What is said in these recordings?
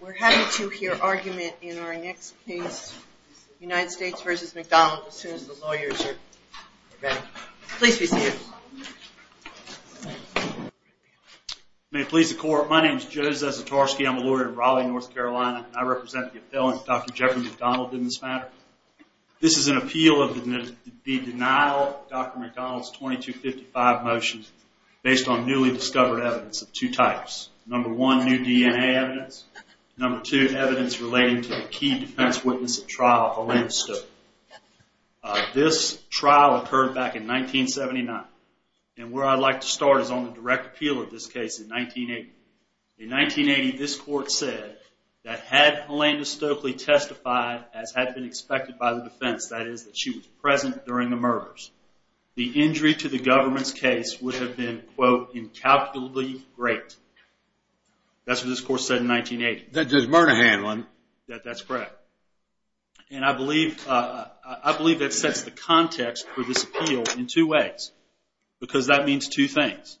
We're happy to hear argument in our next case, United States v. MacDonald as soon as the lawyers are ready. Please be seated. May it please the court, my name is Joe Zasatarsky, I'm a lawyer in Raleigh, North Carolina, and I represent the appellant, Dr. Jeffrey MacDonald, in this matter. This is an appeal of the denial of Dr. MacDonald's 2255 motion based on newly discovered evidence of two types. Number one, new DNA evidence. Number two, evidence relating to the key defense witness at trial, Helene Stokely. This trial occurred back in 1979, and where I'd like to start is on the direct appeal of this case in 1980. In 1980, this court said that had Helene Stokely testified as had been expected by the defense, that is, that she was present during the murders, the injury to the government's case would have been, quote, incalculably great. That's what this court said in 1980. That's murder handling. That's correct. And I believe that sets the context for this appeal in two ways, because that means two things.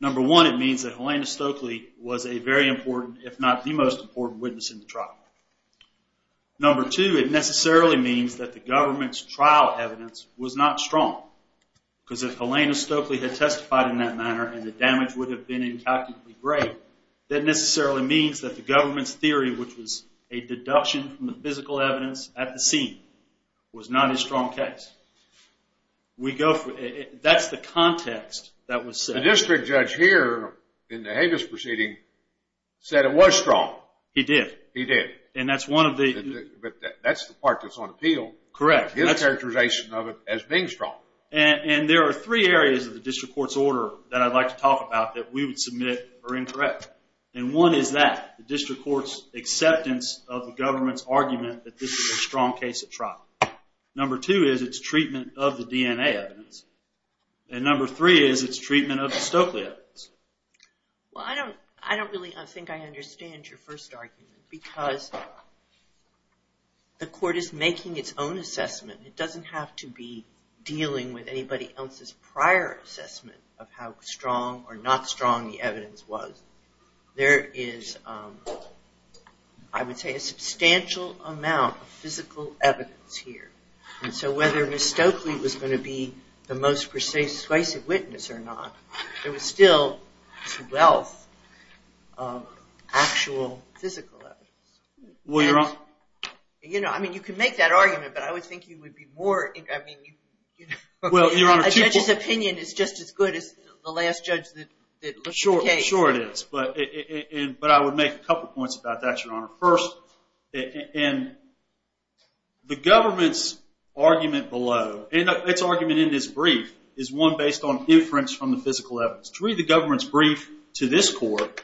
Number one, it means that Helene Stokely was a very important, if not the most important witness in the trial. Number two, it necessarily means that the government's trial evidence was not strong, because if Helene Stokely had testified in that manner, and the damage would have been incalculably great, that necessarily means that the government's theory, which was a deduction from the physical evidence at the scene, was not a strong case. That's the context that was set. The district judge here in the Habeas proceeding said it was strong. He did. He did. But that's the part that's on appeal. Correct. His characterization of it as being strong. And there are three areas of the district court's order that I'd like to talk about that we would submit are incorrect. And one is that, the district court's acceptance of the government's argument that this was a strong case at trial. Number two is its treatment of the DNA evidence. And number three is its treatment of the Stokely evidence. Well, I don't really think I understand your first argument, because the court is making its own assessment. It doesn't have to be dealing with anybody else's prior assessment of how strong or not strong the evidence was. There is, I would say, a substantial amount of physical evidence here. And so whether Ms. Stokely was going to be the most persuasive witness or not, there was still a wealth of actual physical evidence. Well, Your Honor. You know, I mean, you can make that argument, but I would think you would be more, I mean. Well, Your Honor. A judge's opinion is just as good as the last judge that looked at the case. Well, sure it is. But I would make a couple points about that, Your Honor. First, the government's argument below, and its argument in this brief, is one based on inference from the physical evidence. To read the government's brief to this court,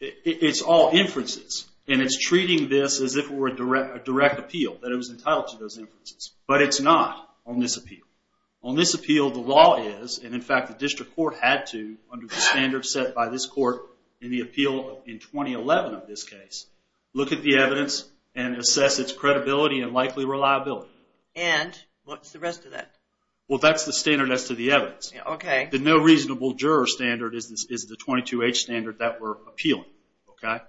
it's all inferences. And it's treating this as if it were a direct appeal, that it was entitled to those inferences. But it's not on this appeal. On this appeal, the law is, and in fact the district court had to, under the standards set by this court in the appeal in 2011 of this case, look at the evidence and assess its credibility and likely reliability. And what's the rest of that? Well, that's the standard as to the evidence. Okay. The no reasonable juror standard is the 22H standard that we're appealing. Okay.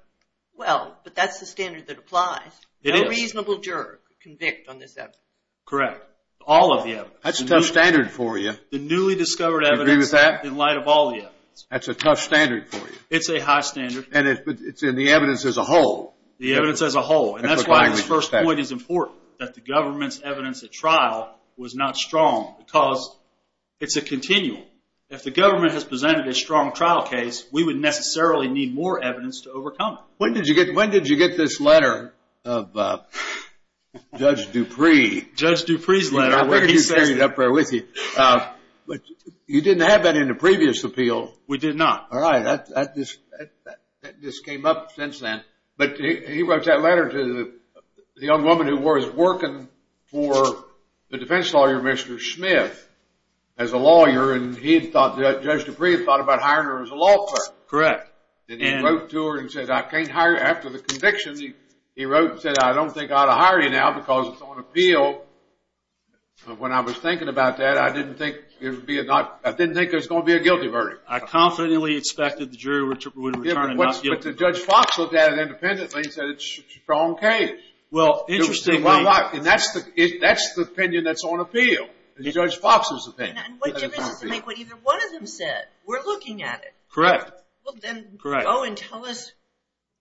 Well, but that's the standard that applies. It is. No reasonable juror could convict on this evidence. Correct. All of the evidence. That's a tough standard for you. The newly discovered evidence in light of all the evidence. That's a tough standard for you. It's a high standard. But it's in the evidence as a whole. The evidence as a whole. And that's why this first point is important, that the government's evidence at trial was not strong, because it's a continuum. If the government has presented a strong trial case, we would necessarily need more evidence to overcome it. When did you get this letter of Judge Dupree? Judge Dupree's letter. I figured you'd carry it up there with you. But you didn't have that in the previous appeal. We did not. All right. That just came up since then. But he wrote that letter to the young woman who was working for the defense lawyer, Mr. Smith, as a lawyer, and he thought that Judge Dupree had thought about hiring her as a law clerk. Correct. And he wrote to her and said, I can't hire you. After the conviction, he wrote and said, I don't think I ought to hire you now because it's on appeal. When I was thinking about that, I didn't think it was going to be a guilty verdict. I confidently expected the jury would return a not guilty verdict. But Judge Fox looked at it independently and said it's a strong case. Well, interestingly. And that's the opinion that's on appeal, Judge Fox's opinion. And what difference does it make what either one of them said? We're looking at it. Correct. Well, then go and tell us.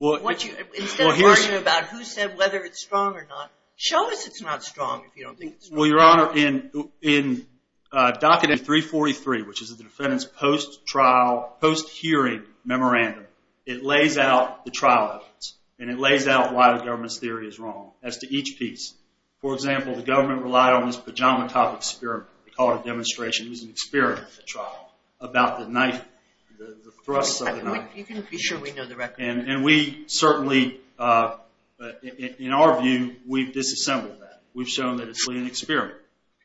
Instead of worrying about who said whether it's strong or not, show us it's not strong if you don't think it's strong. Well, Your Honor, in docket 343, which is the defendant's post-trial, post-hearing memorandum, it lays out the trial evidence and it lays out why the government's theory is wrong as to each piece. For example, the government relied on this pajama-top experiment. We call it a demonstration. It was an experiment at the trial about the thrusts of the knife. You can be sure we know the record. And we certainly, in our view, we've disassembled that. We've shown that it's really an experiment.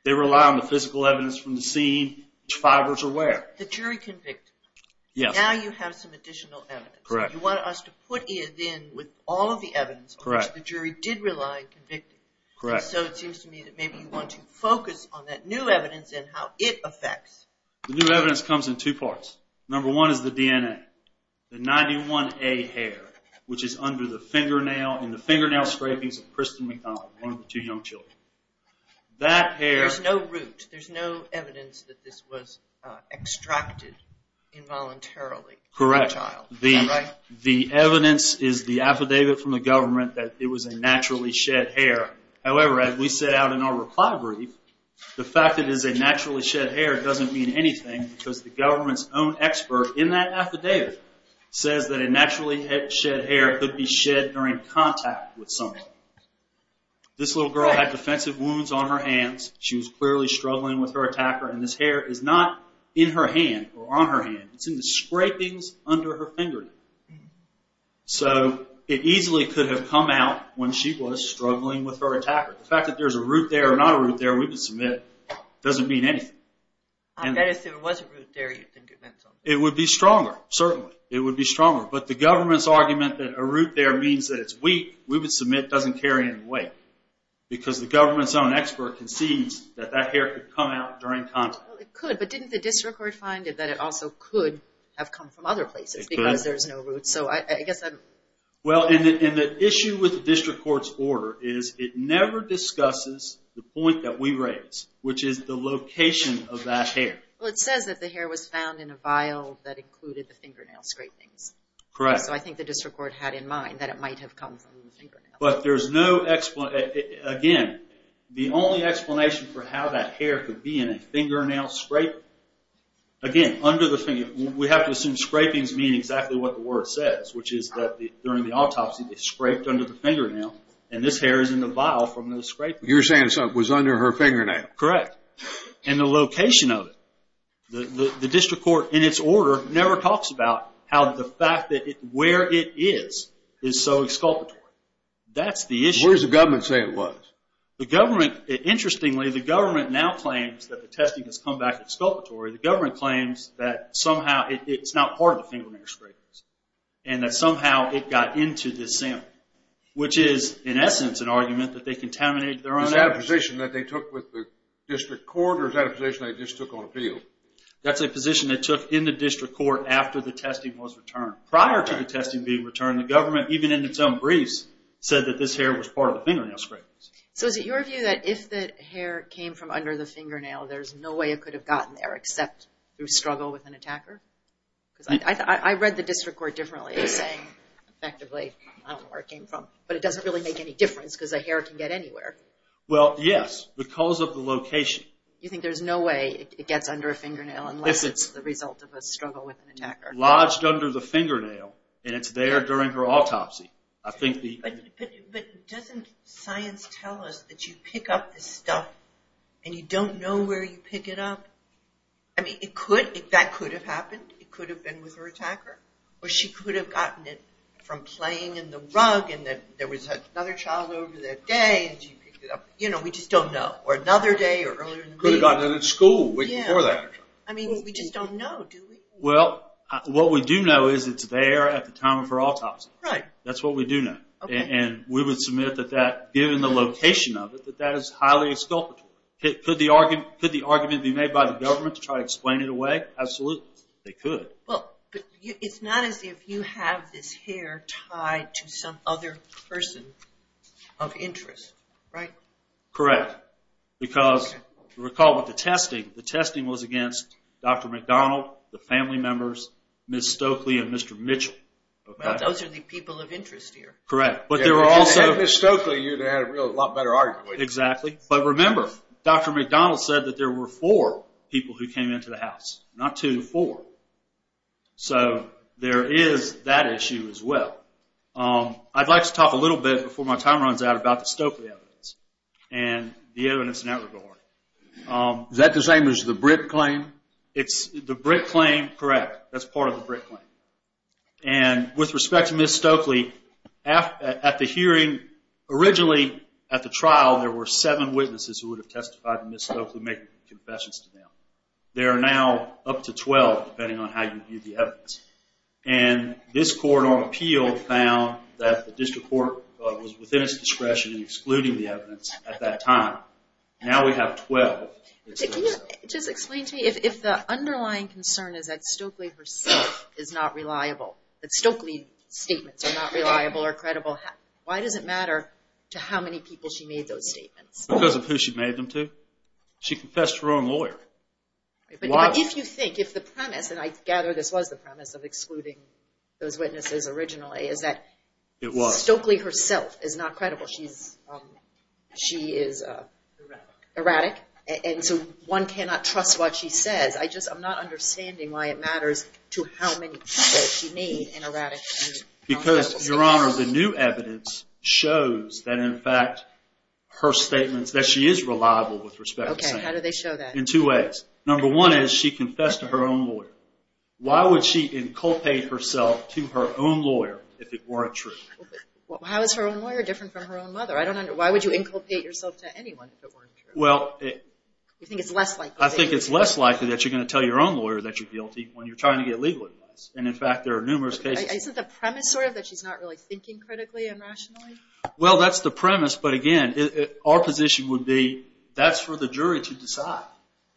They rely on the physical evidence from the scene, which fibers are where. The jury convicted. Yes. Now you have some additional evidence. Correct. You want us to put it in with all of the evidence on which the jury did rely in convicting. Correct. So it seems to me that maybe you want to focus on that new evidence and how it affects. The new evidence comes in two parts. Number one is the DNA, the 91A hair, which is under the fingernail, in the fingernail scrapings of Kristen McDonald, one of the two young children. There's no root. There's no evidence that this was extracted involuntarily. Correct. Is that right? The evidence is the affidavit from the government that it was a naturally shed hair. However, as we set out in our reply brief, the fact that it is a naturally shed hair doesn't mean anything because the government's own expert in that affidavit says that a naturally shed hair could be shed during contact with someone. This little girl had defensive wounds on her hands. She was clearly struggling with her attacker, and this hair is not in her hand or on her hand. It's in the scrapings under her fingernail. So it easily could have come out when she was struggling with her attacker. The fact that there's a root there or not a root there, we would submit, doesn't mean anything. I bet if there was a root there, you'd think it meant something. It would be stronger, certainly. It would be stronger. But the government's argument that a root there means that it's weak, we would submit, doesn't carry any weight because the government's own expert concedes that that hair could come out during contact. It could, but didn't the district court find that it also could have come from other places because there's no root. The issue with the district court's order is it never discusses the point that we raised, which is the location of that hair. It says that the hair was found in a vial that included the fingernail scrapings. So I think the district court had in mind that it might have come from the fingernail. But there's no explanation. Again, the only explanation for how that hair could be in a fingernail scraping, again, under the fingernail, we have to assume scrapings mean exactly what the word says, which is that during the autopsy they scraped under the fingernail, and this hair is in the vial from those scrapings. You're saying it was under her fingernail. Correct. And the location of it. The district court in its order never talks about how the fact that where it is is so exculpatory. That's the issue. Where does the government say it was? Interestingly, the government now claims that the testing has come back exculpatory. The government claims that somehow it's not part of the fingernail scrapings and that somehow it got into this sample, which is, in essence, an argument that they contaminated their own hair. Is that a position that they took with the district court, or is that a position they just took on appeal? That's a position they took in the district court after the testing was returned. Prior to the testing being returned, the government, even in its own briefs, said that this hair was part of the fingernail scrapings. So is it your view that if the hair came from under the fingernail, there's no way it could have gotten there except through struggle with an attacker? I read the district court differently. It was saying, effectively, I don't know where it came from, but it doesn't really make any difference because the hair can get anywhere. Well, yes, because of the location. You think there's no way it gets under a fingernail unless it's the result of a struggle with an attacker? Lodged under the fingernail, and it's there during her autopsy. But doesn't science tell us that you pick up this stuff and you don't know where you pick it up? I mean, that could have happened. It could have been with her attacker, or she could have gotten it from playing in the rug and there was another child over that day, and she picked it up. You know, we just don't know. Or another day, or earlier in the week. Could have gotten it at school, a week before that. I mean, we just don't know, do we? Well, what we do know is it's there at the time of her autopsy. Right. That's what we do know. And we would submit that that, given the location of it, that that is highly exculpatory. Could the argument be made by the government to try to explain it away? Absolutely, they could. Well, but it's not as if you have this hair tied to some other person of interest, right? Correct. Because, recall with the testing, the testing was against Dr. McDonald, the family members, Ms. Stokely, and Mr. Mitchell. Those are the people of interest here. Correct. If it was Ms. Stokely, you'd have a lot better argument. Exactly. But remember, Dr. McDonald said that there were four people who came into the house. Not two, four. So there is that issue as well. I'd like to talk a little bit, before my time runs out, about the Stokely evidence and the evidence in that regard. Is that the same as the Britt claim? The Britt claim, correct. That's part of the Britt claim. And with respect to Ms. Stokely, at the hearing, originally at the trial there were seven witnesses who would have testified to Ms. Stokely making confessions to them. There are now up to 12, depending on how you view the evidence. And this court on appeal found that the district court was within its discretion in excluding the evidence at that time. Now we have 12. Can you just explain to me if the underlying concern is that Stokely herself is not reliable, that Stokely's statements are not reliable or credible, why does it matter to how many people she made those statements? Because of who she made them to. She confessed to her own lawyer. But if you think, if the premise, and I gather this was the premise of excluding those witnesses originally, is that Stokely herself is not credible. She is erratic. And so one cannot trust what she says. I'm not understanding why it matters to how many people she made an erratic statement. Because, Your Honor, the new evidence shows that in fact her statements, that she is reliable with respect to Stokely. Okay, how do they show that? In two ways. Number one is she confessed to her own lawyer. Why would she inculpate herself to her own lawyer if it weren't true? How is her own lawyer different from her own mother? Why would you inculpate yourself to anyone if it weren't true? You think it's less likely. I think it's less likely that you're going to tell your own lawyer that you're guilty when you're trying to get legal advice. And, in fact, there are numerous cases. Isn't the premise sort of that she's not really thinking critically and rationally? Well, that's the premise. But, again, our position would be that's for the jury to decide.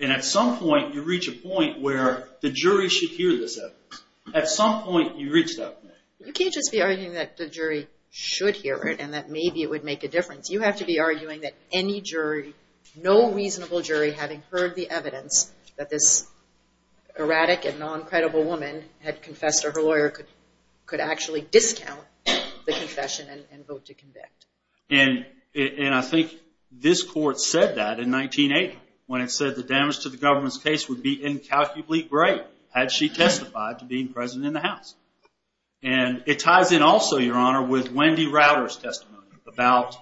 And at some point you reach a point where the jury should hear this evidence. At some point you reach that point. You can't just be arguing that the jury should hear it and that maybe it would make a difference. You have to be arguing that any jury, no reasonable jury, having heard the evidence that this erratic and non-credible woman had confessed to her lawyer could actually discount the confession and vote to convict. And I think this court said that in 1980 when it said the damage to the government's case would be incalculably great had she testified to being present in the House. And it ties in also, Your Honor, with Wendy Rauter's testimony about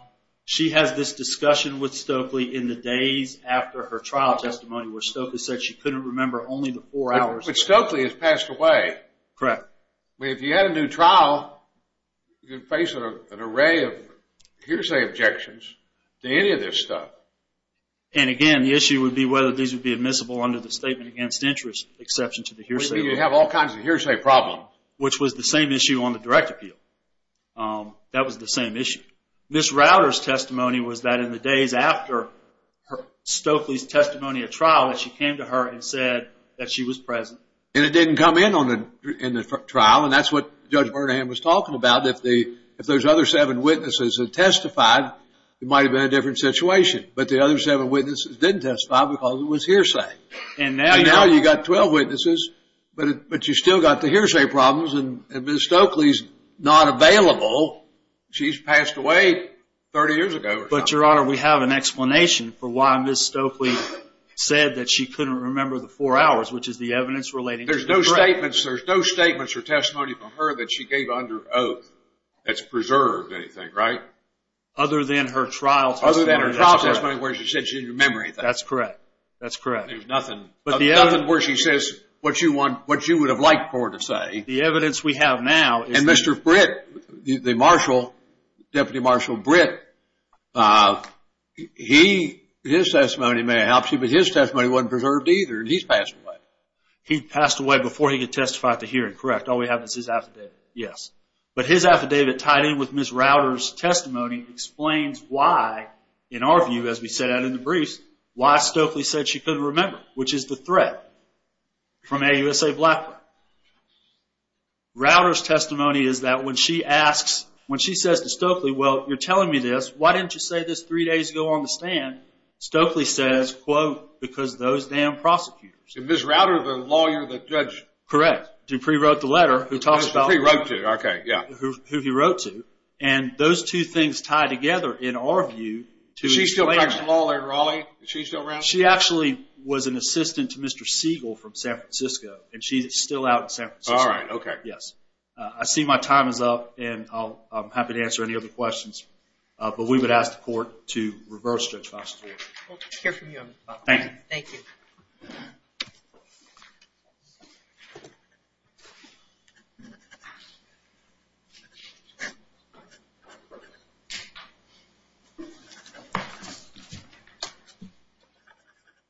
she has this discussion with Stokely in the days after her trial testimony where Stokely said she couldn't remember only the four hours. But Stokely has passed away. Correct. I mean, if you had a new trial, you'd face an array of hearsay objections to any of this stuff. And, again, the issue would be whether these would be admissible under the statement against interest exception to the hearsay rule. Which was the same issue on the direct appeal. That was the same issue. Ms. Rauter's testimony was that in the days after Stokely's testimony at trial that she came to her and said that she was present. And it didn't come in on the trial. And that's what Judge Bernahan was talking about. If those other seven witnesses had testified, it might have been a different situation. But the other seven witnesses didn't testify because it was hearsay. And now you've got 12 witnesses, but you've still got the hearsay problems. And Ms. Stokely's not available. She's passed away 30 years ago or something. But, Your Honor, we have an explanation for why Ms. Stokely said that she couldn't remember the four hours, which is the evidence relating to the break. There's no statements or testimony from her that she gave under oath that's preserved anything, right? Other than her trial testimony. Other than her trial testimony where she said she didn't remember anything. That's correct. That's correct. There's nothing where she says what you would have liked for her to say. The evidence we have now. And Mr. Britt, the marshal, Deputy Marshal Britt, his testimony may have helped you, but his testimony wasn't preserved either. He's passed away. He passed away before he could testify at the hearing. Correct. All we have is his affidavit. Yes. But his affidavit tied in with Ms. Rauter's testimony explains why, in our view, as we set out in the briefs, why Stokely said she couldn't remember, which is the threat from AUSA Blackburn. Rauter's testimony is that when she asks, when she says to Stokely, well, you're telling me this. Why didn't you say this three days ago on the stand? Stokely says, quote, because those damn prosecutors. Is Ms. Rauter the lawyer, the judge? Correct. Dupree wrote the letter. Dupree wrote to her. Okay, yeah. Who he wrote to. And those two things tie together, in our view, to explain it. Is she still practicing law there, Raleigh? Is she still around? She actually was an assistant to Mr. Siegel from San Francisco, and she's still out in San Francisco. All right, okay. Yes. I see my time is up, and I'm happy to answer any other questions. But we would ask the court to reverse Judge Foster's ruling. We'll hear from you on that. Thank you. Thank you.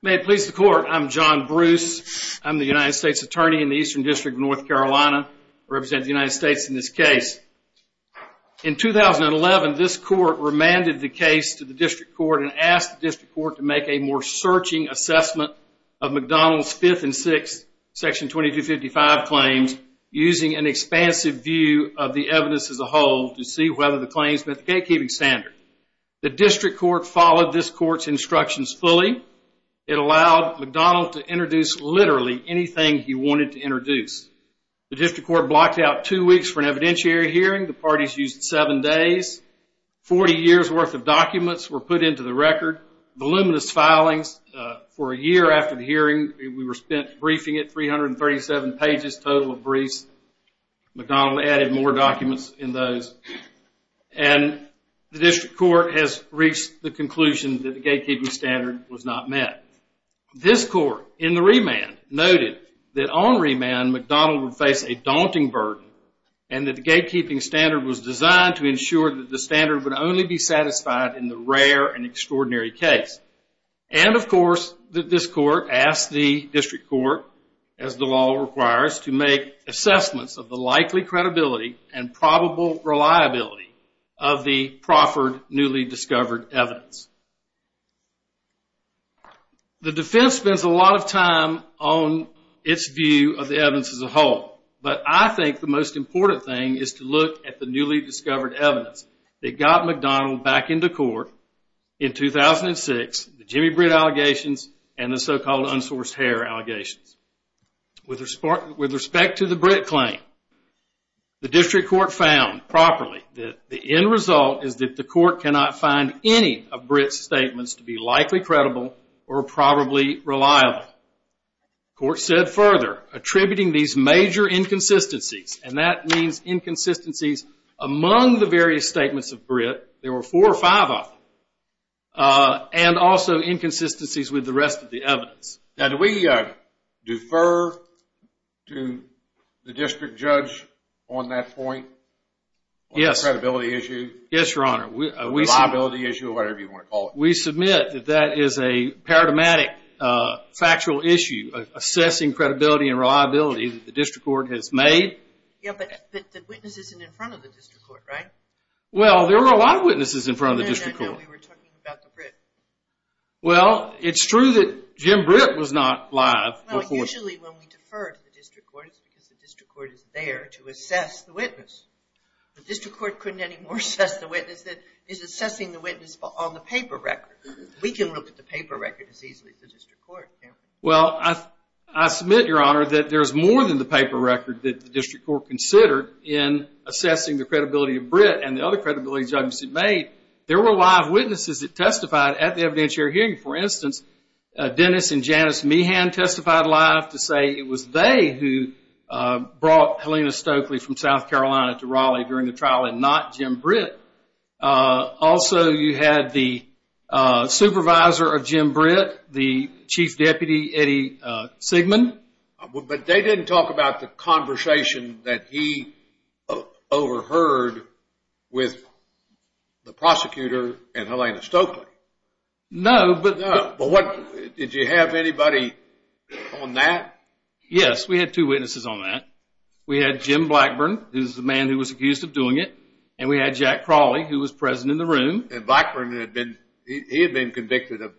May it please the court. I'm John Bruce. I'm the United States attorney in the Eastern District of North Carolina. I represent the United States in this case. In 2011, this court remanded the case to the district court and asked the district court to make a more searching assessment of McDonald's Fifth and Sixth Section 2255 claims, using an expansive view of the evidence as a whole to see whether the claims met the gatekeeping standard. The district court followed this court's instructions fully. It allowed McDonald's to introduce literally anything he wanted to introduce. The district court blocked out two weeks for an evidentiary hearing. The parties used seven days. Forty years' worth of documents were put into the record. Voluminous filings for a year after the hearing. We were briefing it, 337 pages total of briefs. McDonald added more documents in those. And the district court has reached the conclusion that the gatekeeping standard was not met. This court in the remand noted that on remand, McDonald would face a daunting burden and that the gatekeeping standard was designed to ensure that the standard would only be satisfied in the rare and extraordinary case. And of course, this court asked the district court, as the law requires, to make assessments of the likely credibility and probable reliability of the proffered newly discovered evidence. The defense spends a lot of time on its view of the evidence as a whole. But I think the most important thing is to look at the newly discovered evidence that got McDonald back into court in 2006, the Jimmy Britt allegations and the so-called unsourced hair allegations. With respect to the Britt claim, the district court found properly that the end result is that the court cannot find any of Britt's statements to be likely credible or probably reliable. The court said further, attributing these major inconsistencies, and that means inconsistencies among the various statements of Britt, there were four or five of them, and also inconsistencies with the rest of the evidence. Now, do we defer to the district judge on that point? Yes. On the credibility issue? Yes, Your Honor. Reliability issue or whatever you want to call it. We submit that that is a paradigmatic factual issue of assessing credibility and reliability that the district court has made. Yeah, but the witness isn't in front of the district court, right? Well, there were a lot of witnesses in front of the district court. No, no, no, we were talking about the Britt. Well, it's true that Jim Britt was not live before. Well, usually when we defer to the district court, it's because the district court is there to assess the witness. The district court couldn't anymore assess the witness that is assessing the witness on the paper record. We can look at the paper record as easily as the district court can. Well, I submit, Your Honor, that there's more than the paper record that the district court considered in assessing the credibility of Britt and the other credibility judgments it made. There were live witnesses that testified at the evidentiary hearing. For instance, Dennis and Janice Meehan testified live to say it was they who brought Helena Stokely from South Carolina to Raleigh during the trial and not Jim Britt. Also, you had the supervisor of Jim Britt, the chief deputy, Eddie Sigman. But they didn't talk about the conversation that he overheard with the prosecutor and Helena Stokely. No, but... No, but did you have anybody on that? Yes, we had two witnesses on that. We had Jim Blackburn, who's the man who was accused of doing it, and we had Jack Crawley, who was present in the room. And Blackburn, he had been convicted of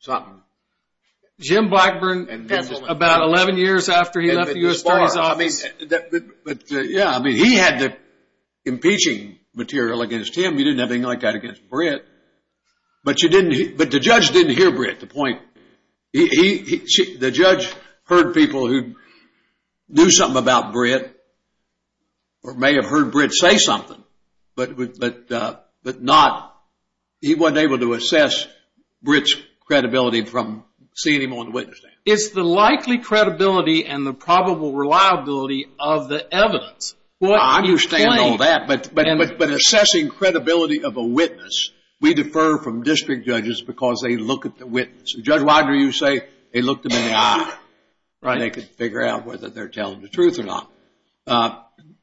something. Jim Blackburn, about 11 years after he left the U.S. Attorney's Office. Yeah, I mean, he had the impeaching material against him. You didn't have anything like that against Britt. But the judge didn't hear Britt, the point. The judge heard people who knew something about Britt or may have heard Britt say something, but he wasn't able to assess Britt's credibility from seeing him on the witness stand. It's the likely credibility and the probable reliability of the evidence. I understand all that, but assessing credibility of a witness, we defer from district judges because they look at the witness. Judge Wagner, you say they looked him in the eye. They could figure out whether they're telling the truth or not.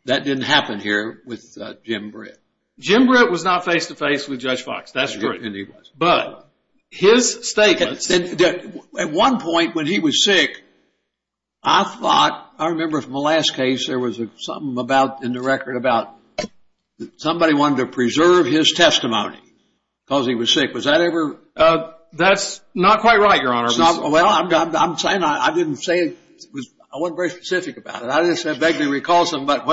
That didn't happen here with Jim Britt. Jim Britt was not face-to-face with Judge Fox. That's true. And he was. But his statements... At one point when he was sick, I thought, I remember from the last case, there was something about, in the record, about somebody wanted to preserve his testimony because he was sick. Was that ever... That's not quite right, Your Honor. Well, I'm saying I didn't say it. I wasn't very specific about it. I just begged him to recall something about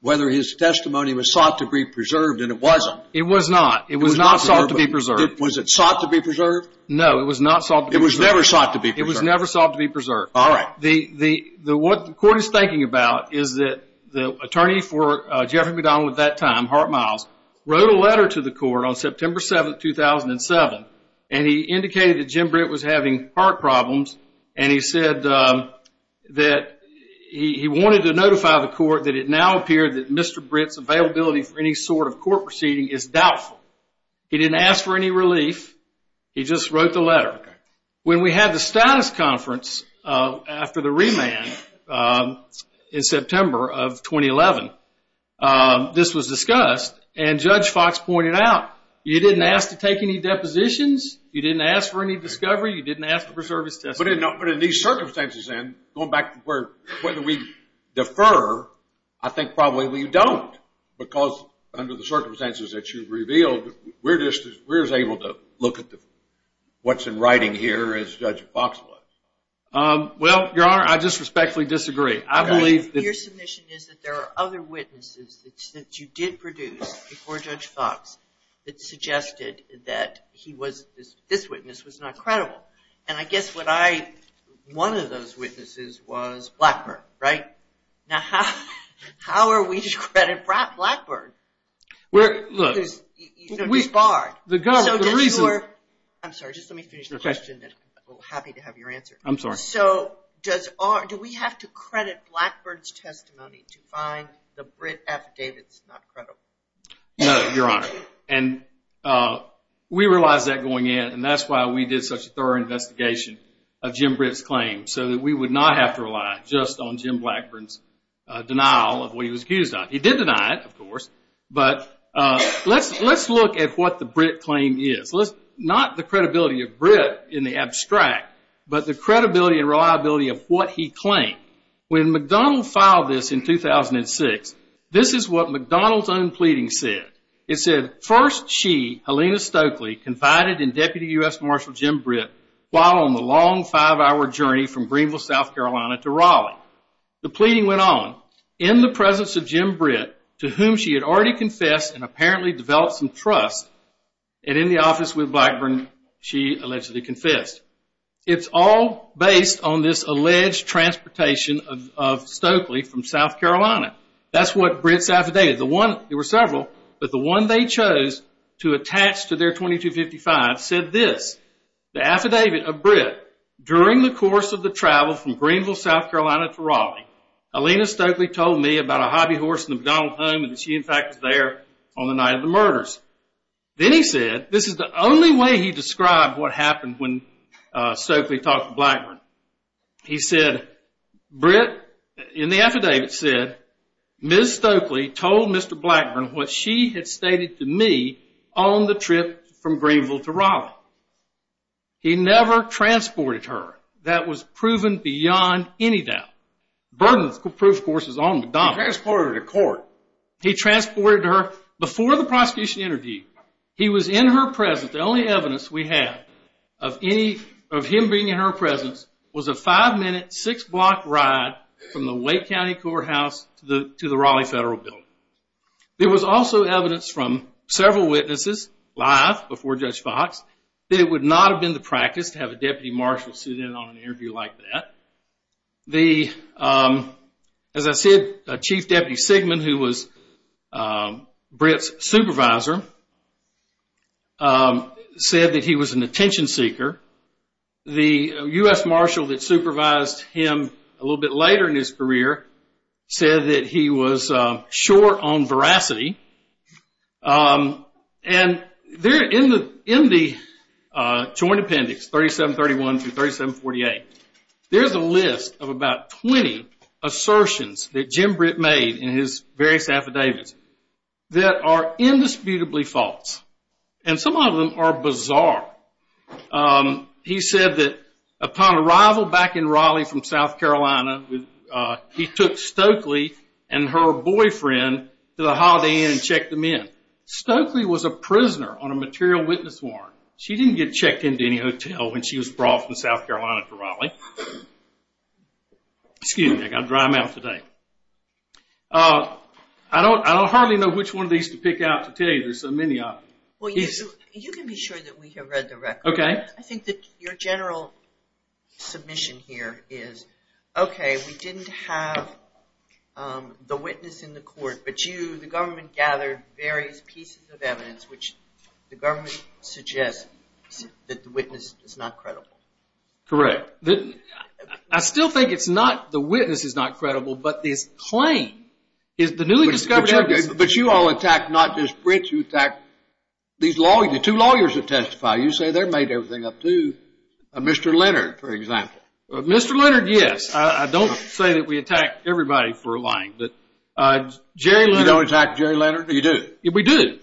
whether his testimony was sought to be preserved, and it wasn't. It was not. It was not sought to be preserved. Was it sought to be preserved? No, it was not sought to be preserved. It was never sought to be preserved. It was never sought to be preserved. All right. What the court is thinking about is that the attorney for Jeffrey McDonald at that time, Hart Miles, wrote a letter to the court on September 7, 2007, and he indicated that Jim Britt was having heart problems, and he said that he wanted to notify the court that it now appeared that Mr. Britt's availability for any sort of court proceeding is doubtful. He didn't ask for any relief. He just wrote the letter. When we had the status conference after the remand in September of 2011, this was discussed, and Judge Fox pointed out, you didn't ask to take any depositions. You didn't ask for any discovery. You didn't ask to preserve his testimony. But in these circumstances, then, going back to whether we defer, I think probably we don't, because under the circumstances that you've revealed, we're just as able to look at what's in writing here as Judge Fox was. Well, Your Honor, I just respectfully disagree. Your submission is that there are other witnesses that you did produce before Judge Fox that suggested that this witness was not credible, and I guess one of those witnesses was Blackburn, right? Now, how are we to credit Blackburn? Look. Because he's barred. The reason. I'm sorry. Just let me finish the question. I'm happy to have your answer. I'm sorry. So do we have to credit Blackburn's testimony to find the Britt affidavits not credible? No, Your Honor. And we realized that going in, and that's why we did such a thorough investigation of Jim Britt's claim, so that we would not have to rely just on Jim Blackburn's denial of what he was accused of. He did deny it, of course. But let's look at what the Britt claim is. Not the credibility of Britt in the abstract, but the credibility and reliability of what he claimed. When McDonald filed this in 2006, this is what McDonald's own pleading said. It said, First, she, Helena Stokely, confided in Deputy U.S. Marshal Jim Britt while on the long five-hour journey from Greenville, South Carolina, to Raleigh. The pleading went on. In the presence of Jim Britt, to whom she had already confessed and apparently developed some trust, and in the office with Blackburn, she allegedly confessed. It's all based on this alleged transportation of Stokely from South Carolina. That's what Britt's affidavit. There were several, but the one they chose to attach to their 2255 said this. The affidavit of Britt, During the course of the travel from Greenville, South Carolina, to Raleigh, Helena Stokely told me about a hobby horse in the McDonald home and that she, in fact, was there on the night of the murders. Then he said, this is the only way he described what happened when Stokely talked to Blackburn. He said, Britt, in the affidavit, said, Ms. Stokely told Mr. Blackburn what she had stated to me on the trip from Greenville to Raleigh. He never transported her. That was proven beyond any doubt. Burden of proof, of course, is on McDonald's. He transported her to court. However, before the prosecution interviewed, he was in her presence. The only evidence we have of him being in her presence was a five-minute, six-block ride from the Wake County Courthouse to the Raleigh Federal Building. There was also evidence from several witnesses, live before Judge Fox, that it would not have been the practice to have a deputy marshal sit in on an interview like that. The, as I said, Chief Deputy Sigman, who was Britt's supervisor, said that he was an attention seeker. The U.S. marshal that supervised him a little bit later in his career said that he was short on veracity. And in the joint appendix, 3731 through 3748, there's a list of about 20 assertions that Jim Britt made in his various affidavits that are indisputably false. And some of them are bizarre. He said that upon arrival back in Raleigh from South Carolina, he took Stokely and her boyfriend to the Holiday Inn and checked them in. Stokely was a prisoner on a material witness warrant. She didn't get checked into any hotel when she was brought from South Carolina to Raleigh. Excuse me, I've got to dry my mouth today. I don't hardly know which one of these to pick out to tell you. There's so many of them. You can be sure that we have read the record. Okay. I think that your general submission here is, okay, we didn't have the witness in the court, but the government gathered various pieces of evidence which the government suggests that the witness is not credible. Correct. I still think it's not the witness is not credible, but this claim is the newly discovered evidence. But you all attack not just Britt, you attack these two lawyers that testify. You say they're made everything up too. Mr. Leonard, for example. Mr. Leonard, yes. I don't say that we attack everybody for lying. You don't attack Jerry Leonard? You do? We do.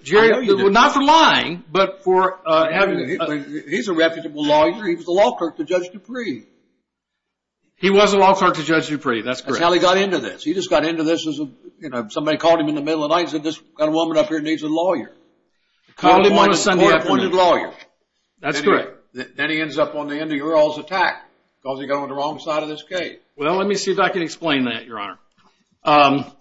Not for lying, but for evidence. He's a reputable lawyer. He was a law clerk to Judge Dupree. He was a law clerk to Judge Dupree. That's correct. That's how he got into this. He just got into this as somebody called him in the middle of the night and said this woman up here needs a lawyer. Called him on a Sunday afternoon. A court-appointed lawyer. That's correct. Then he ends up on the end of your all's attack because he got on the wrong side of this case. Well, let me see if I can explain that, Your Honor.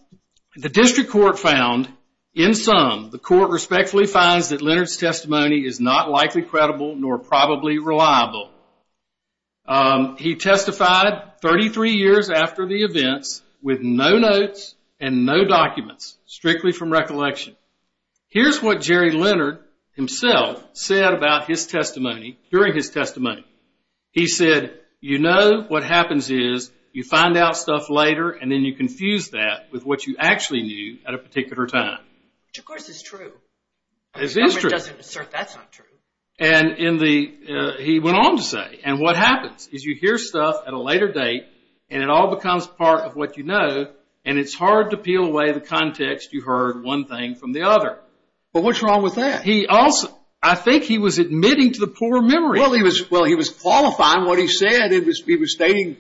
The district court found, in sum, the court respectfully finds that Leonard's testimony is not likely credible nor probably reliable. He testified 33 years after the events with no notes and no documents. Strictly from recollection. Here's what Jerry Leonard himself said about his testimony during his testimony. He said, you know what happens is you find out stuff later and then you confuse that with what you actually knew at a particular time. Which, of course, is true. It is true. Leonard doesn't assert that's not true. And he went on to say, and what happens is you hear stuff at a later date and it all becomes part of what you know and it's hard to peel away the context you heard one thing from the other. But what's wrong with that? I think he was admitting to the poor memory. Well, he was qualifying what he said. He was stating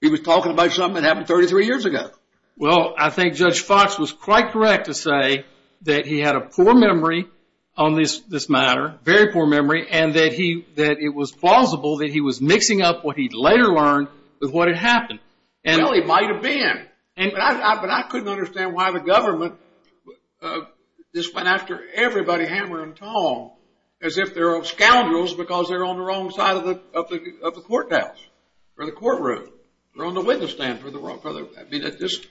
he was talking about something that happened 33 years ago. Well, I think Judge Fox was quite correct to say that he had a poor memory on this matter, very poor memory, and that it was plausible that he was mixing up what he'd later learned with what had happened. Well, he might have been. But I couldn't understand why the government just went after everybody hammer and tong as if they're scoundrels because they're on the wrong side of the courthouse or the courtroom or on the witness stand. I mean, it just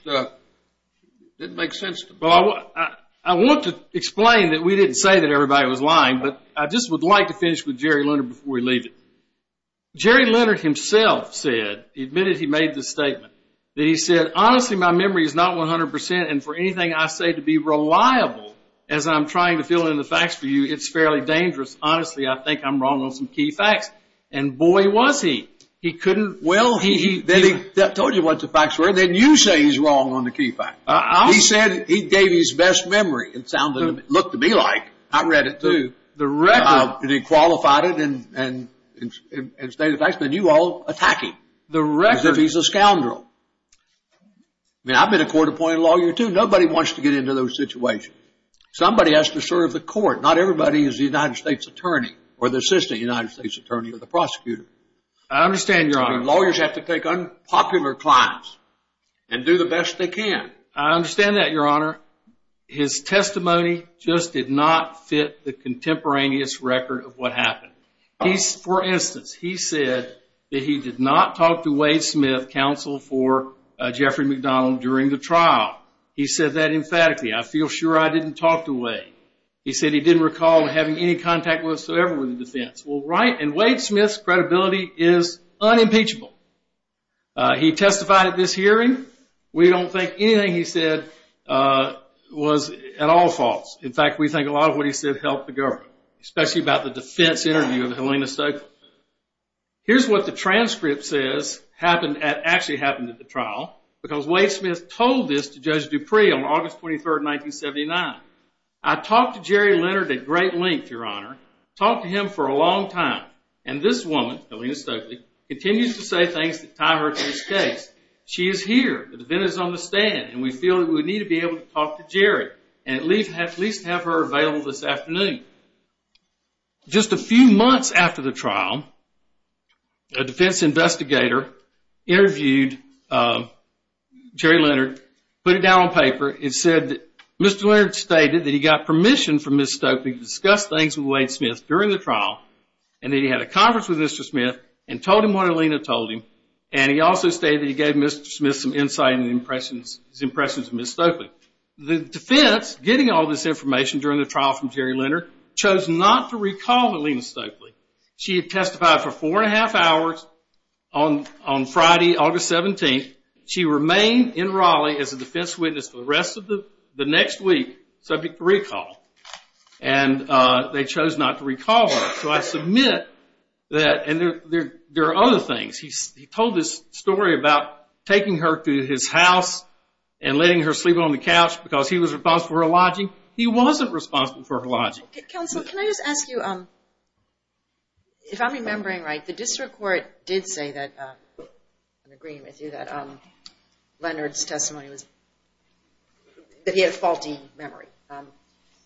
didn't make sense to me. I want to explain that we didn't say that everybody was lying, but I just would like to finish with Jerry Leonard before we leave it. Jerry Leonard himself said, he admitted he made this statement, that he said, honestly, my memory is not 100% and for anything I say to be reliable as I'm trying to fill in the facts for you, it's fairly dangerous. Honestly, I think I'm wrong on some key facts. And boy, was he. He couldn't. Well, then he told you what the facts were and then you say he's wrong on the key facts. He said he gave his best memory. It looked to me like. I read it, too. The record. And he qualified it and stated the facts. Then you all attack him. The record. As if he's a scoundrel. I mean, I've been a court-appointed lawyer, too. Nobody wants to get into those situations. Somebody has to serve the court. Not everybody is the United States attorney or the assistant United States attorney or the prosecutor. I understand, Your Honor. Lawyers have to take unpopular clients and do the best they can. I understand that, Your Honor. His testimony just did not fit the contemporaneous record of what happened. For instance, he said that he did not talk to Wade Smith, counsel for Jeffrey McDonald, during the trial. He said that emphatically. I feel sure I didn't talk to Wade. He said he didn't recall having any contact whatsoever with the defense. Well, right, and Wade Smith's credibility is unimpeachable. He testified at this hearing. We don't think anything he said was at all false. In fact, we think a lot of what he said helped the government, especially about the defense interview of Helena Stokely. Here's what the transcript says actually happened at the trial, because Wade Smith told this to Judge Dupree on August 23, 1979. I talked to Jerry Leonard at great length, Your Honor. Talked to him for a long time, and this woman, Helena Stokely, continues to say things that tie her to this case. She is here. The defendant is on the stand, and we feel that we need to be able to talk to Jerry and at least have her available this afternoon. Just a few months after the trial, a defense investigator interviewed Jerry Leonard, put it down on paper, and said that Mr. Leonard stated that he got permission from Ms. Stokely to discuss things with Wade Smith during the trial, and that he had a conference with Mr. Smith and told him what Helena told him, and he also stated that he gave Mr. Smith some insight and his impressions of Ms. Stokely. The defense, getting all this information during the trial from Jerry Leonard, chose not to recall Helena Stokely. She had testified for four and a half hours on Friday, August 17th. She remained in Raleigh as a defense witness for the rest of the next week, subject to recall, and they chose not to recall her. So I submit that, and there are other things. He told this story about taking her to his house and letting her sleep on the couch because he was responsible for her lodging. He wasn't responsible for her lodging. Counsel, can I just ask you, if I'm remembering right, the district court did say that, I'm agreeing with you, that Leonard's testimony was, that he had a faulty memory.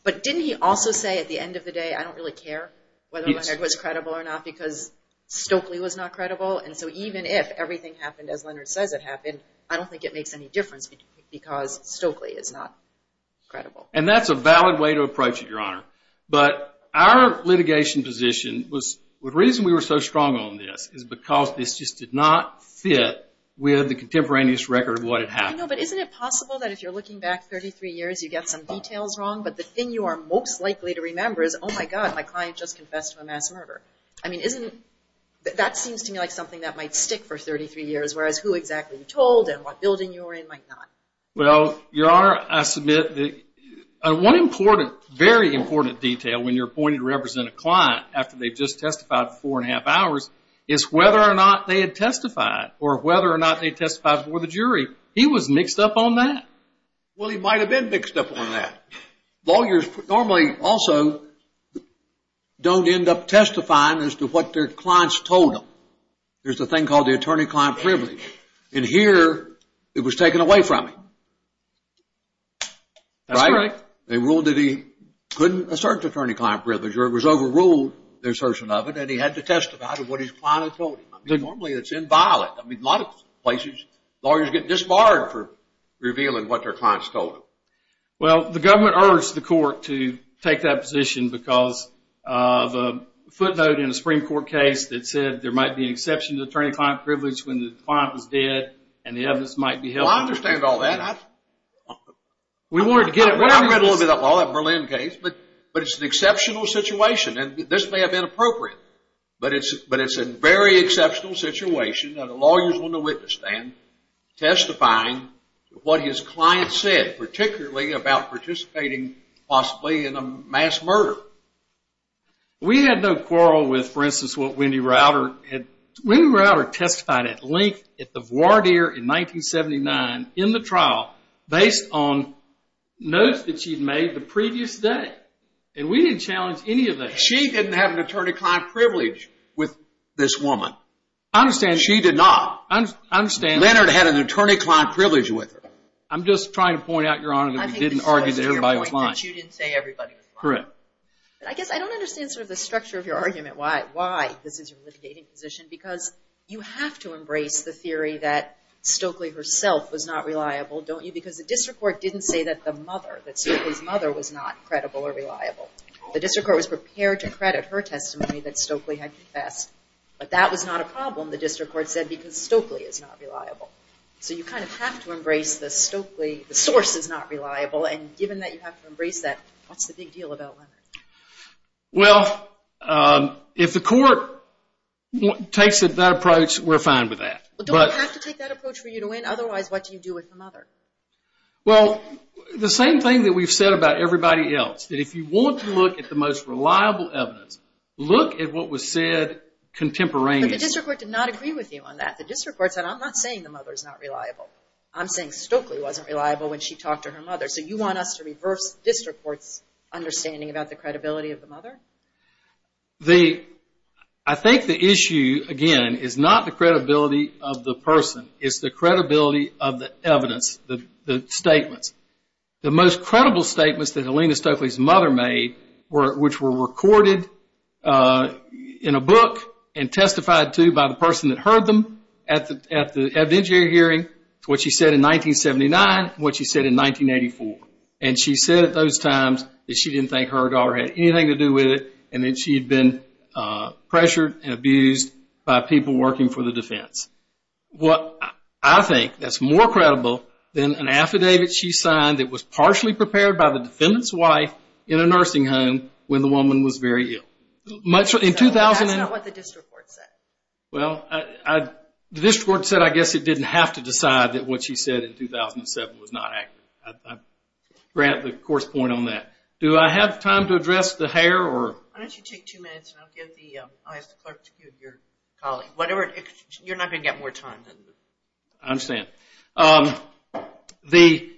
But didn't he also say at the end of the day, I don't really care whether Leonard was credible or not because Stokely was not credible, and so even if everything happened as Leonard says it happened, I don't think it makes any difference because Stokely is not credible. And that's a valid way to approach it, Your Honor. But our litigation position was, the reason we were so strong on this is because this just did not fit with the contemporaneous record of what had happened. I know, but isn't it possible that if you're looking back 33 years, you get some details wrong, but the thing you are most likely to remember is, oh my God, my client just confessed to a mass murder. I mean, isn't, that seems to me like something that might stick for 33 years, whereas who exactly you told and what building you were in might not. Well, Your Honor, I submit that one important, very important detail when you're appointed to represent a client after they've just testified four and a half hours is whether or not they had testified or whether or not they testified before the jury. He was mixed up on that. Well, he might have been mixed up on that. Lawyers normally also don't end up testifying as to what their clients told them. There's a thing called the attorney-client privilege, and here it was taken away from him. That's right. They ruled that he couldn't assert the attorney-client privilege or it was overruled, the assertion of it, and he had to testify to what his client had told him. Normally, it's inviolate. I mean, in a lot of places, lawyers get disbarred for revealing what their clients told them. Well, the government urged the court to take that position because of a footnote in a Supreme Court case that said there might be an exception to attorney-client privilege when the client was dead and the evidence might be held. Well, I understand all that. We wanted to get it right. I read a little bit of that law, that Berlin case, but it's an exceptional situation, and this may have been appropriate, but it's a very exceptional situation that a lawyer's on the witness stand testifying to what his client said, particularly about participating possibly in a mass murder. We had no quarrel with, for instance, what Wendy Rauder had... Wendy Rauder testified at length at the voir dire in 1979 in the trial based on notes that she'd made the previous day, and we didn't challenge any of that. She didn't have an attorney-client privilege with this woman. I understand she did not. I understand... Leonard had an attorney-client privilege with her. I'm just trying to point out, Your Honor, that we didn't argue that everybody was lying. That you didn't say everybody was lying. Correct. But I guess I don't understand sort of the structure of your argument, why this is your litigating position, because you have to embrace the theory that Stokely herself was not reliable, don't you? Because the district court didn't say that the mother, that Stokely's mother was not credible or reliable. The district court was prepared to credit her testimony that Stokely had confessed, but that was not a problem, the district court said, because Stokely is not reliable. So you kind of have to embrace the Stokely... the source is not reliable, and given that you have to embrace that, what's the big deal about Leonard? Well, if the court takes that approach, we're fine with that. Otherwise, what do you do with the mother? Well, the same thing that we've said about everybody else, that if you want to look at the most reliable evidence, look at what was said contemporaneously. But the district court did not agree with you on that. The district court said, I'm not saying the mother's not reliable. I'm saying Stokely wasn't reliable when she talked to her mother. So you want us to reverse the district court's understanding about the credibility of the mother? I think the issue, again, is not the credibility of the person, it's the credibility of the evidence, the statements. The most credible statements that Helena Stokely's mother made, which were recorded in a book and testified to by the person that heard them at the evidentiary hearing, what she said in 1979, and what she said in 1984. And she said at those times that she didn't think her daughter had anything to do with it, and that she'd been pressured and abused by people working for the defense. What I think that's more credible than an affidavit she signed that was partially prepared by the defendant's wife in a nursing home when the woman was very ill. That's not what the district court said. Well, the district court said I guess it didn't have to decide that what she said in 2007 was not accurate. I grant the court's point on that. Do I have time to address the hair? Why don't you take two minutes and I'll ask the clerk to get your colleague. You're not going to get more time. I understand. The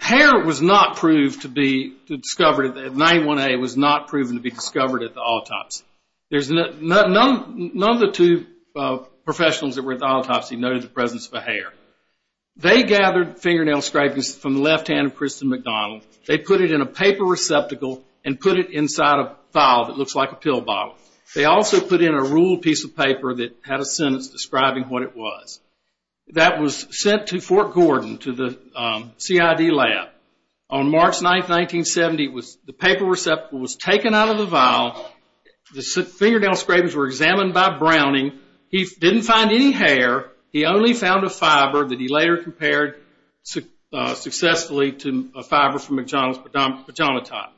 hair was not proved to be discovered. 91A was not proven to be discovered at the autopsy. None of the two professionals that were at the autopsy noted the presence of a hair. They gathered fingernail scrapings from the left hand of Kristen McDonald. They put it in a paper receptacle and put it inside a vial that looks like a pill bottle. They also put in a ruled piece of paper that had a sentence describing what it was. That was sent to Fort Gordon to the CID lab. On March 9, 1970, the paper receptacle was taken out of the vial. The fingernail scrapings were examined by Browning. He didn't find any hair. He only found a fiber that he later compared successfully to a fiber from McDonald's pajama top.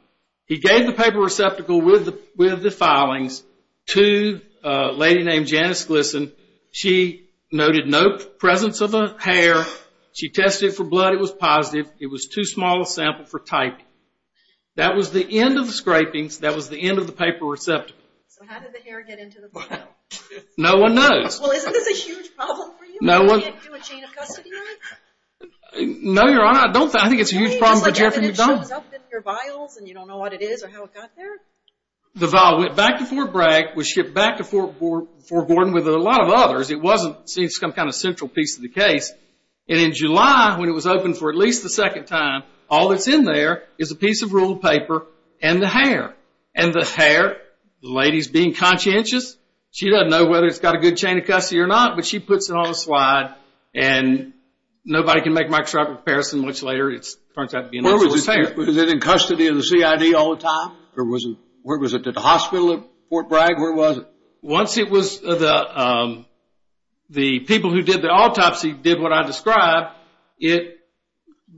He gave the paper receptacle with the filings to a lady named Janice Glisson. She noted no presence of a hair. She tested it for blood. It was positive. It was too small a sample for typing. That was the end of the scrapings. That was the end of the paper receptacle. So how did the hair get into the vial? No one knows. Well, isn't this a huge problem for you? You can't do a chain of custody like that? No, Your Honor. I think it's a huge problem for Jeffrey. It shows up in your vials and you don't know what it is or how it got there? The vial went back to Fort Bragg, was shipped back to Fort Gordon with a lot of others. It wasn't some kind of central piece of the case. And in July, when it was opened for at least the second time, all that's in there is a piece of ruled paper and the hair. And the hair, the lady's being conscientious. She doesn't know whether it's got a good chain of custody or not, but she puts it on a slide and nobody can make a microscopic comparison much later. Was it in custody of the CID all the time? Or was it at the hospital at Fort Bragg? Where was it? Once the people who did the autopsy did what I described, it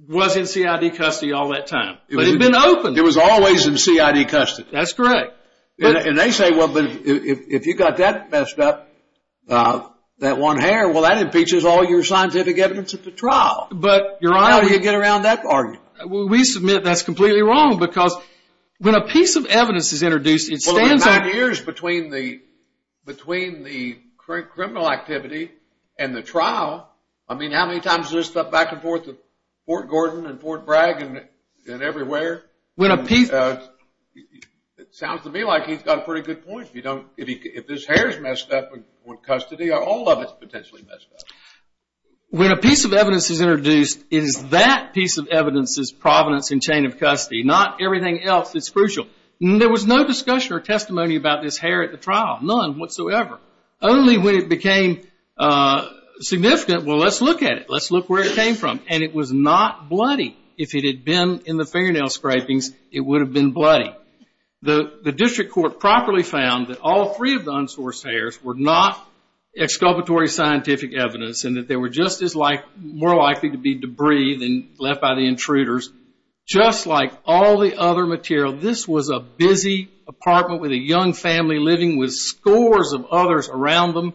was in CID custody all that time. But it had been opened. It was always in CID custody. That's correct. And they say, well, but if you got that messed up, that one hair, well, that impeaches all your scientific evidence at the trial. How do you get around that argument? Well, we submit that's completely wrong because when a piece of evidence is introduced, it stands out. Well, in the nine years between the criminal activity and the trial, I mean, how many times is there stuff back and forth at Fort Gordon and Fort Bragg and everywhere? When a piece... It sounds to me like he's got a pretty good point. If this hair's messed up in custody, all of it's potentially messed up. When a piece of evidence is introduced, it is that piece of evidence's provenance in chain of custody, not everything else that's crucial. There was no discussion or testimony about this hair at the trial, none whatsoever. Only when it became significant, well, let's look at it. Let's look where it came from. And it was not bloody. If it had been in the fingernail scrapings, it would have been bloody. The district court properly found that all three of the unsourced hairs were not exculpatory scientific evidence and that they were just as more likely to be debris than left by the intruders. Just like all the other material, this was a busy apartment with a young family living with scores of others around them.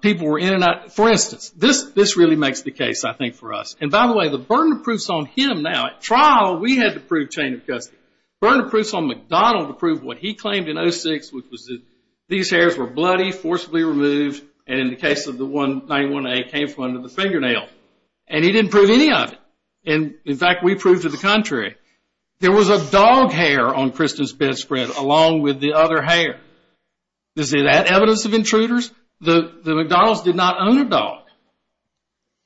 People were in and out. For instance, this really makes the case, I think, for us. And, by the way, the burden of proof's on him now. At trial, we had to prove chain of custody. The burden of proof's on McDonald to prove what he claimed in 06, which was that these hairs were bloody, forcibly removed, and in the case of the 191A, came from under the fingernail. And he didn't prove any of it. In fact, we proved to the contrary. There was a dog hair on Kristen's bedspread along with the other hair. Is that evidence of intruders? The McDonalds did not own a dog.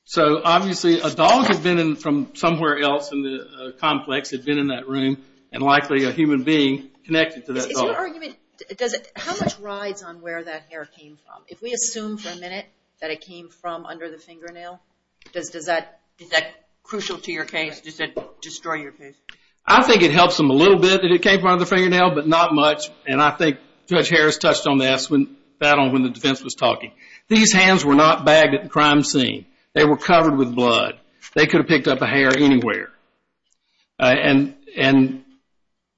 So, obviously, a dog had been in from somewhere else in the complex, had been in that room, and likely a human being connected to that dog. How much rides on where that hair came from? If we assume for a minute that it came from under the fingernail, is that crucial to your case, just to destroy your case? I think it helps them a little bit that it came from under the fingernail, but not much. And I think Judge Harris touched on that when the defense was talking. These hands were not bagged at the crime scene. They were covered with blood. They could have picked up a hair anywhere. And,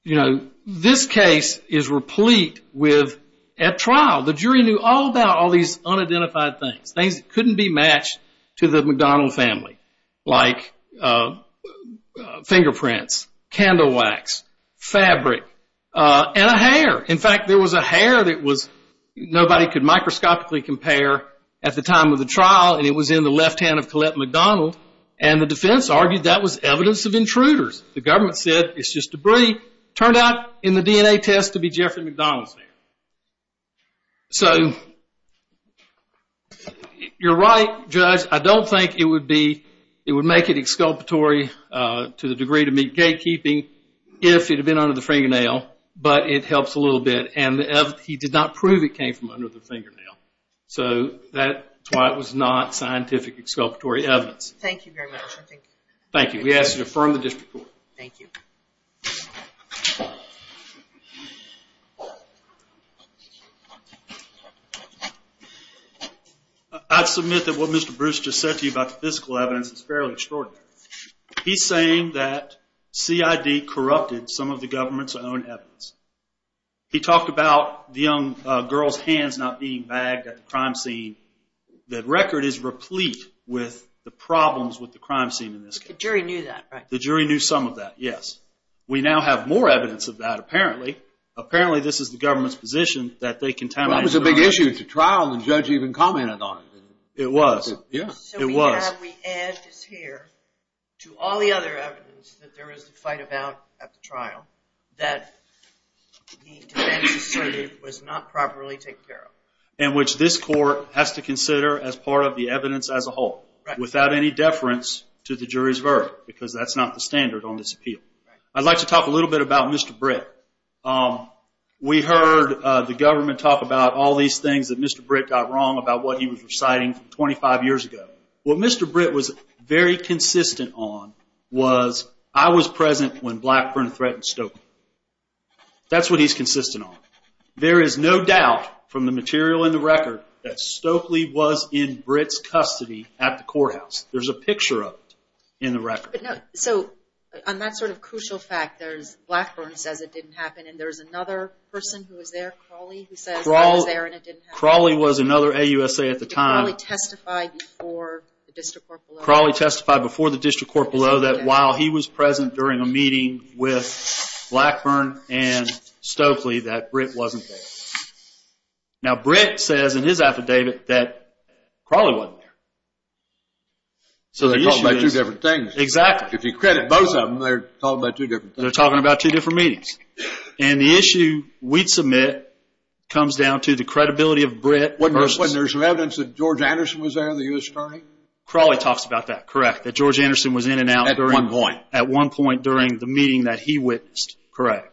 you know, this case is replete with, at trial, the jury knew all about all these unidentified things, things that couldn't be matched to the McDonald family, like fingerprints, candle wax, fabric, and a hair. In fact, there was a hair that nobody could microscopically compare at the time of the trial, and it was in the left hand of Colette McDonald. And the defense argued that was evidence of intruders. The government said it's just debris. It turned out in the DNA test to be Jeffrey McDonald's hair. So you're right, Judge. I don't think it would make it exculpatory to the degree to meet gatekeeping if it had been under the fingernail, but it helps a little bit. And he did not prove it came from under the fingernail. So that's why it was not scientific exculpatory evidence. Thank you very much. Thank you. We ask that you affirm the district court. Thank you. I submit that what Mr. Bruce just said to you about the physical evidence is fairly extraordinary. He's saying that CID corrupted some of the government's own evidence. He talked about the young girl's hands not being bagged at the crime scene. The record is replete with the problems with the crime scene in this case. The jury knew that, right? The jury knew some of that, yes. We now have more evidence of that, apparently. Apparently, this is the government's position that they contaminated the crime scene. Well, it was a big issue at the trial, and the judge even commented on it. It was. Yeah. It was. So we add this here to all the other evidence that there was a fight about at the trial that the defense asserted was not properly taken care of. And which this court has to consider as part of the evidence as a whole, without any deference to the jury's verdict, because that's not the standard on this appeal. Right. I'd like to talk a little bit about Mr. Britt. We heard the government talk about all these things that Mr. Britt got wrong about what he was reciting 25 years ago. What Mr. Britt was very consistent on was, I was present when Blackburn threatened Stokely. That's what he's consistent on. There is no doubt, from the material in the record, that Stokely was in Britt's custody at the courthouse. There's a picture of it in the record. So, on that sort of crucial fact, there's Blackburn says it didn't happen, and there's another person who was there, Crawley, who says that was there and it didn't happen. Crawley was another AUSA at the time. Crawley testified before the district court below. Crawley testified before the district court below that, while he was present during a meeting with Blackburn and Stokely, that Britt wasn't there. Now, Britt says in his affidavit that Crawley wasn't there. So they're talking about two different things. Exactly. If you credit both of them, they're talking about two different things. They're talking about two different meetings. And the issue we'd submit comes down to the credibility of Britt. Wasn't there some evidence that George Anderson was there, the U.S. attorney? Crawley talks about that, correct, that George Anderson was in and out. At one point. At one point during the meeting that he witnessed, correct.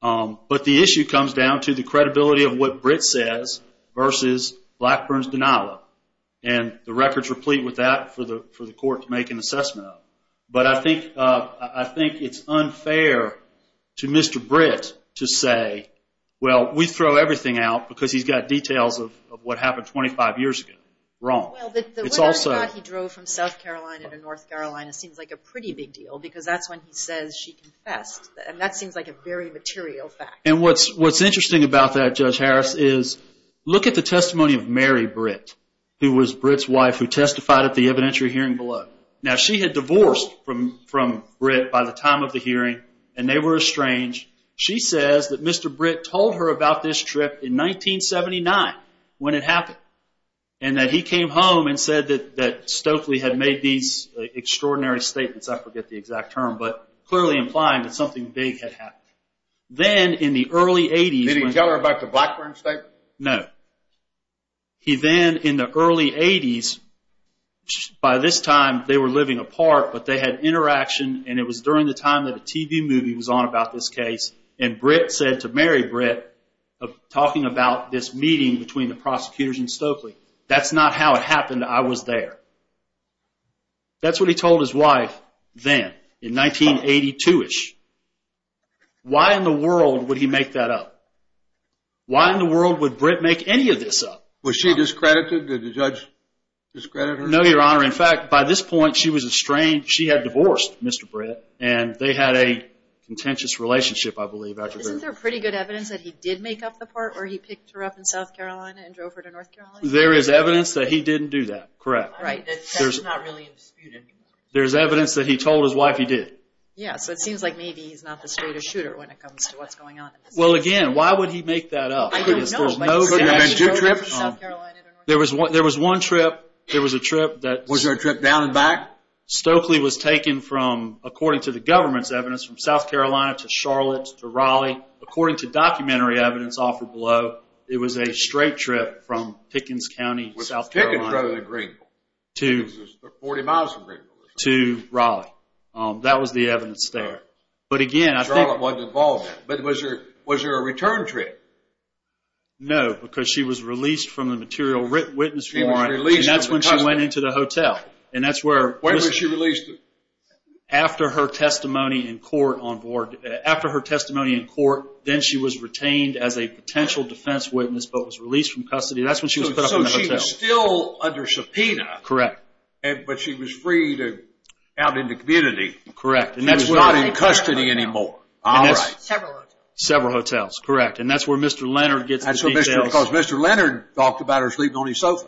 But the issue comes down to the credibility of what Britt says versus Blackburn's denial. And the record's replete with that for the court to make an assessment of. But I think it's unfair to Mr. Britt to say, Well, we throw everything out because he's got details of what happened 25 years ago. Wrong. Well, the weather shot he drove from South Carolina to North Carolina seems like a pretty big deal because that's when he says she confessed. And that seems like a very material fact. And what's interesting about that, Judge Harris, is look at the testimony of Mary Britt, who was Britt's wife who testified at the evidentiary hearing below. Now, she had divorced from Britt by the time of the hearing, and they were estranged. She says that Mr. Britt told her about this trip in 1979 when it happened, and that he came home and said that Stokely had made these extraordinary statements. I forget the exact term, but clearly implying that something big had happened. Then, in the early 80s. Did he tell her about the Blackburn statement? No. He then, in the early 80s, by this time they were living apart, but they had interaction, and it was during the time that a TV movie was on about this case, and Britt said to Mary Britt, talking about this meeting between the prosecutors and Stokely, that's not how it happened. I was there. That's what he told his wife then, in 1982-ish. Why in the world would he make that up? Why in the world would Britt make any of this up? Was she discredited? Did the judge discredit her? No, Your Honor. In fact, by this point, she was estranged. She had divorced Mr. Britt, and they had a contentious relationship, I believe. Isn't there pretty good evidence that he did make up the part where he picked her up in South Carolina and drove her to North Carolina? There is evidence that he didn't do that, correct. Right. That's not really disputed. There's evidence that he told his wife he did. Yeah, so it seems like maybe he's not the straightest shooter when it comes to what's going on. Well, again, why would he make that up? I don't know. Could there have been two trips? There was one trip. Was there a trip down and back? Stokely was taken, according to the government's evidence, from South Carolina to Charlotte to Raleigh. According to documentary evidence offered below, it was a straight trip from Pickens County, South Carolina to Raleigh. That was the evidence there. Charlotte wasn't involved in that. But was there a return trip? No, because she was released from the material witness warrant, and that's when she went into the hotel. When was she released? After her testimony in court. After her testimony in court, then she was retained as a potential defense witness but was released from custody. That's when she was put up in the hotel. So she was still under subpoena. Correct. But she was freed out in the community. Correct. She was not in custody anymore. All right. Several hotels. Several hotels, correct. And that's where Mr. Leonard gets the details. Because Mr. Leonard talked about her sleeping on his sofa.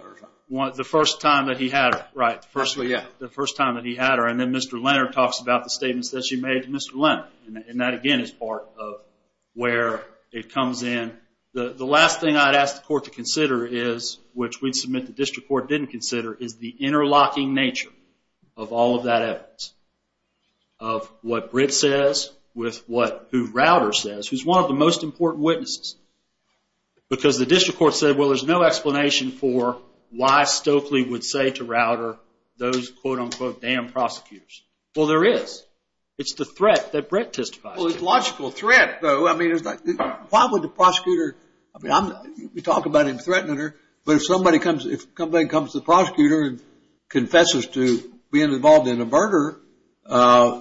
The first time that he had her, right. The first time that he had her. And then Mr. Leonard talks about the statements that she made to Mr. Leonard. And that, again, is part of where it comes in. The last thing I'd ask the court to consider is, which we'd submit the district court didn't consider, is the interlocking nature of all of that evidence, of what Britt says with what Rauder says, who's one of the most important witnesses. Because the district court said, well there's no explanation for why Stokely would say to Rauder those quote-unquote damn prosecutors. Well, there is. It's the threat that Britt testifies to. Well, it's a logical threat, though. I mean, why would the prosecutor, we talk about him threatening her, but if somebody comes, if somebody comes to the prosecutor and confesses to being involved in a murder,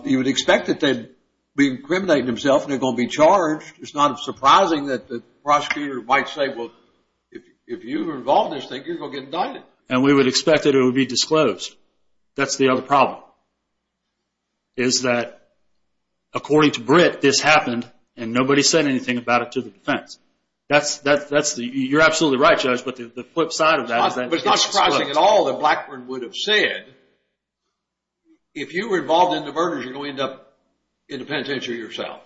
you would expect that they'd be incriminating themselves and they're going to be charged. It's not surprising that the prosecutor might say, well if you were involved in this thing, you're going to get indicted. And we would expect that it would be disclosed. That's the other problem. Is that, according to Britt, this happened and nobody said anything about it to the defense. That's the, you're absolutely right, Judge, but the flip side of that is that. It's not surprising at all that Blackburn would have said, if you were involved in the murders, you're going to end up in the penitentiary yourself.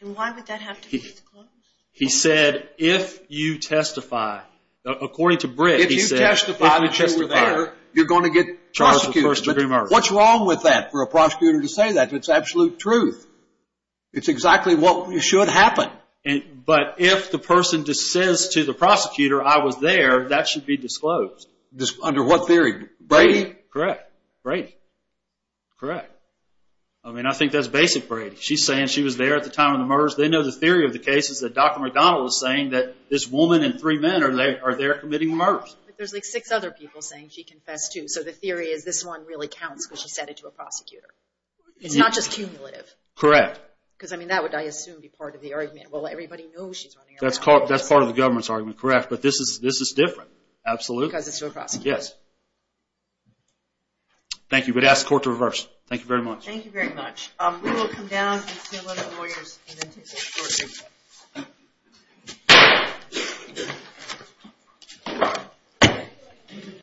And why would that have to be disclosed? He said if you testify, according to Britt, if you testify that you were there, you're going to get prosecuted. What's wrong with that for a prosecutor to say that? It's absolute truth. It's exactly what should happen. But if the person says to the prosecutor, I was there, that should be disclosed. Under what theory? Brady. Correct. Brady. Correct. I mean, I think that's basic Brady. She's saying she was there at the time of the murders. They know the theory of the case is that Dr. McDonald was saying that this woman and three men are there committing murders. But there's like six other people saying she confessed too. So the theory is this one really counts because she said it to a prosecutor. It's not just cumulative. Correct. Because, I mean, that would, I assume, be part of the argument. Well, everybody knows she's running around. That's part of the government's argument. Correct. But this is different. Absolutely. Because it's to a prosecutor. Yes. Thank you. We'd ask the court to reverse. Thank you very much. Thank you very much. We will come down and see a lot of lawyers.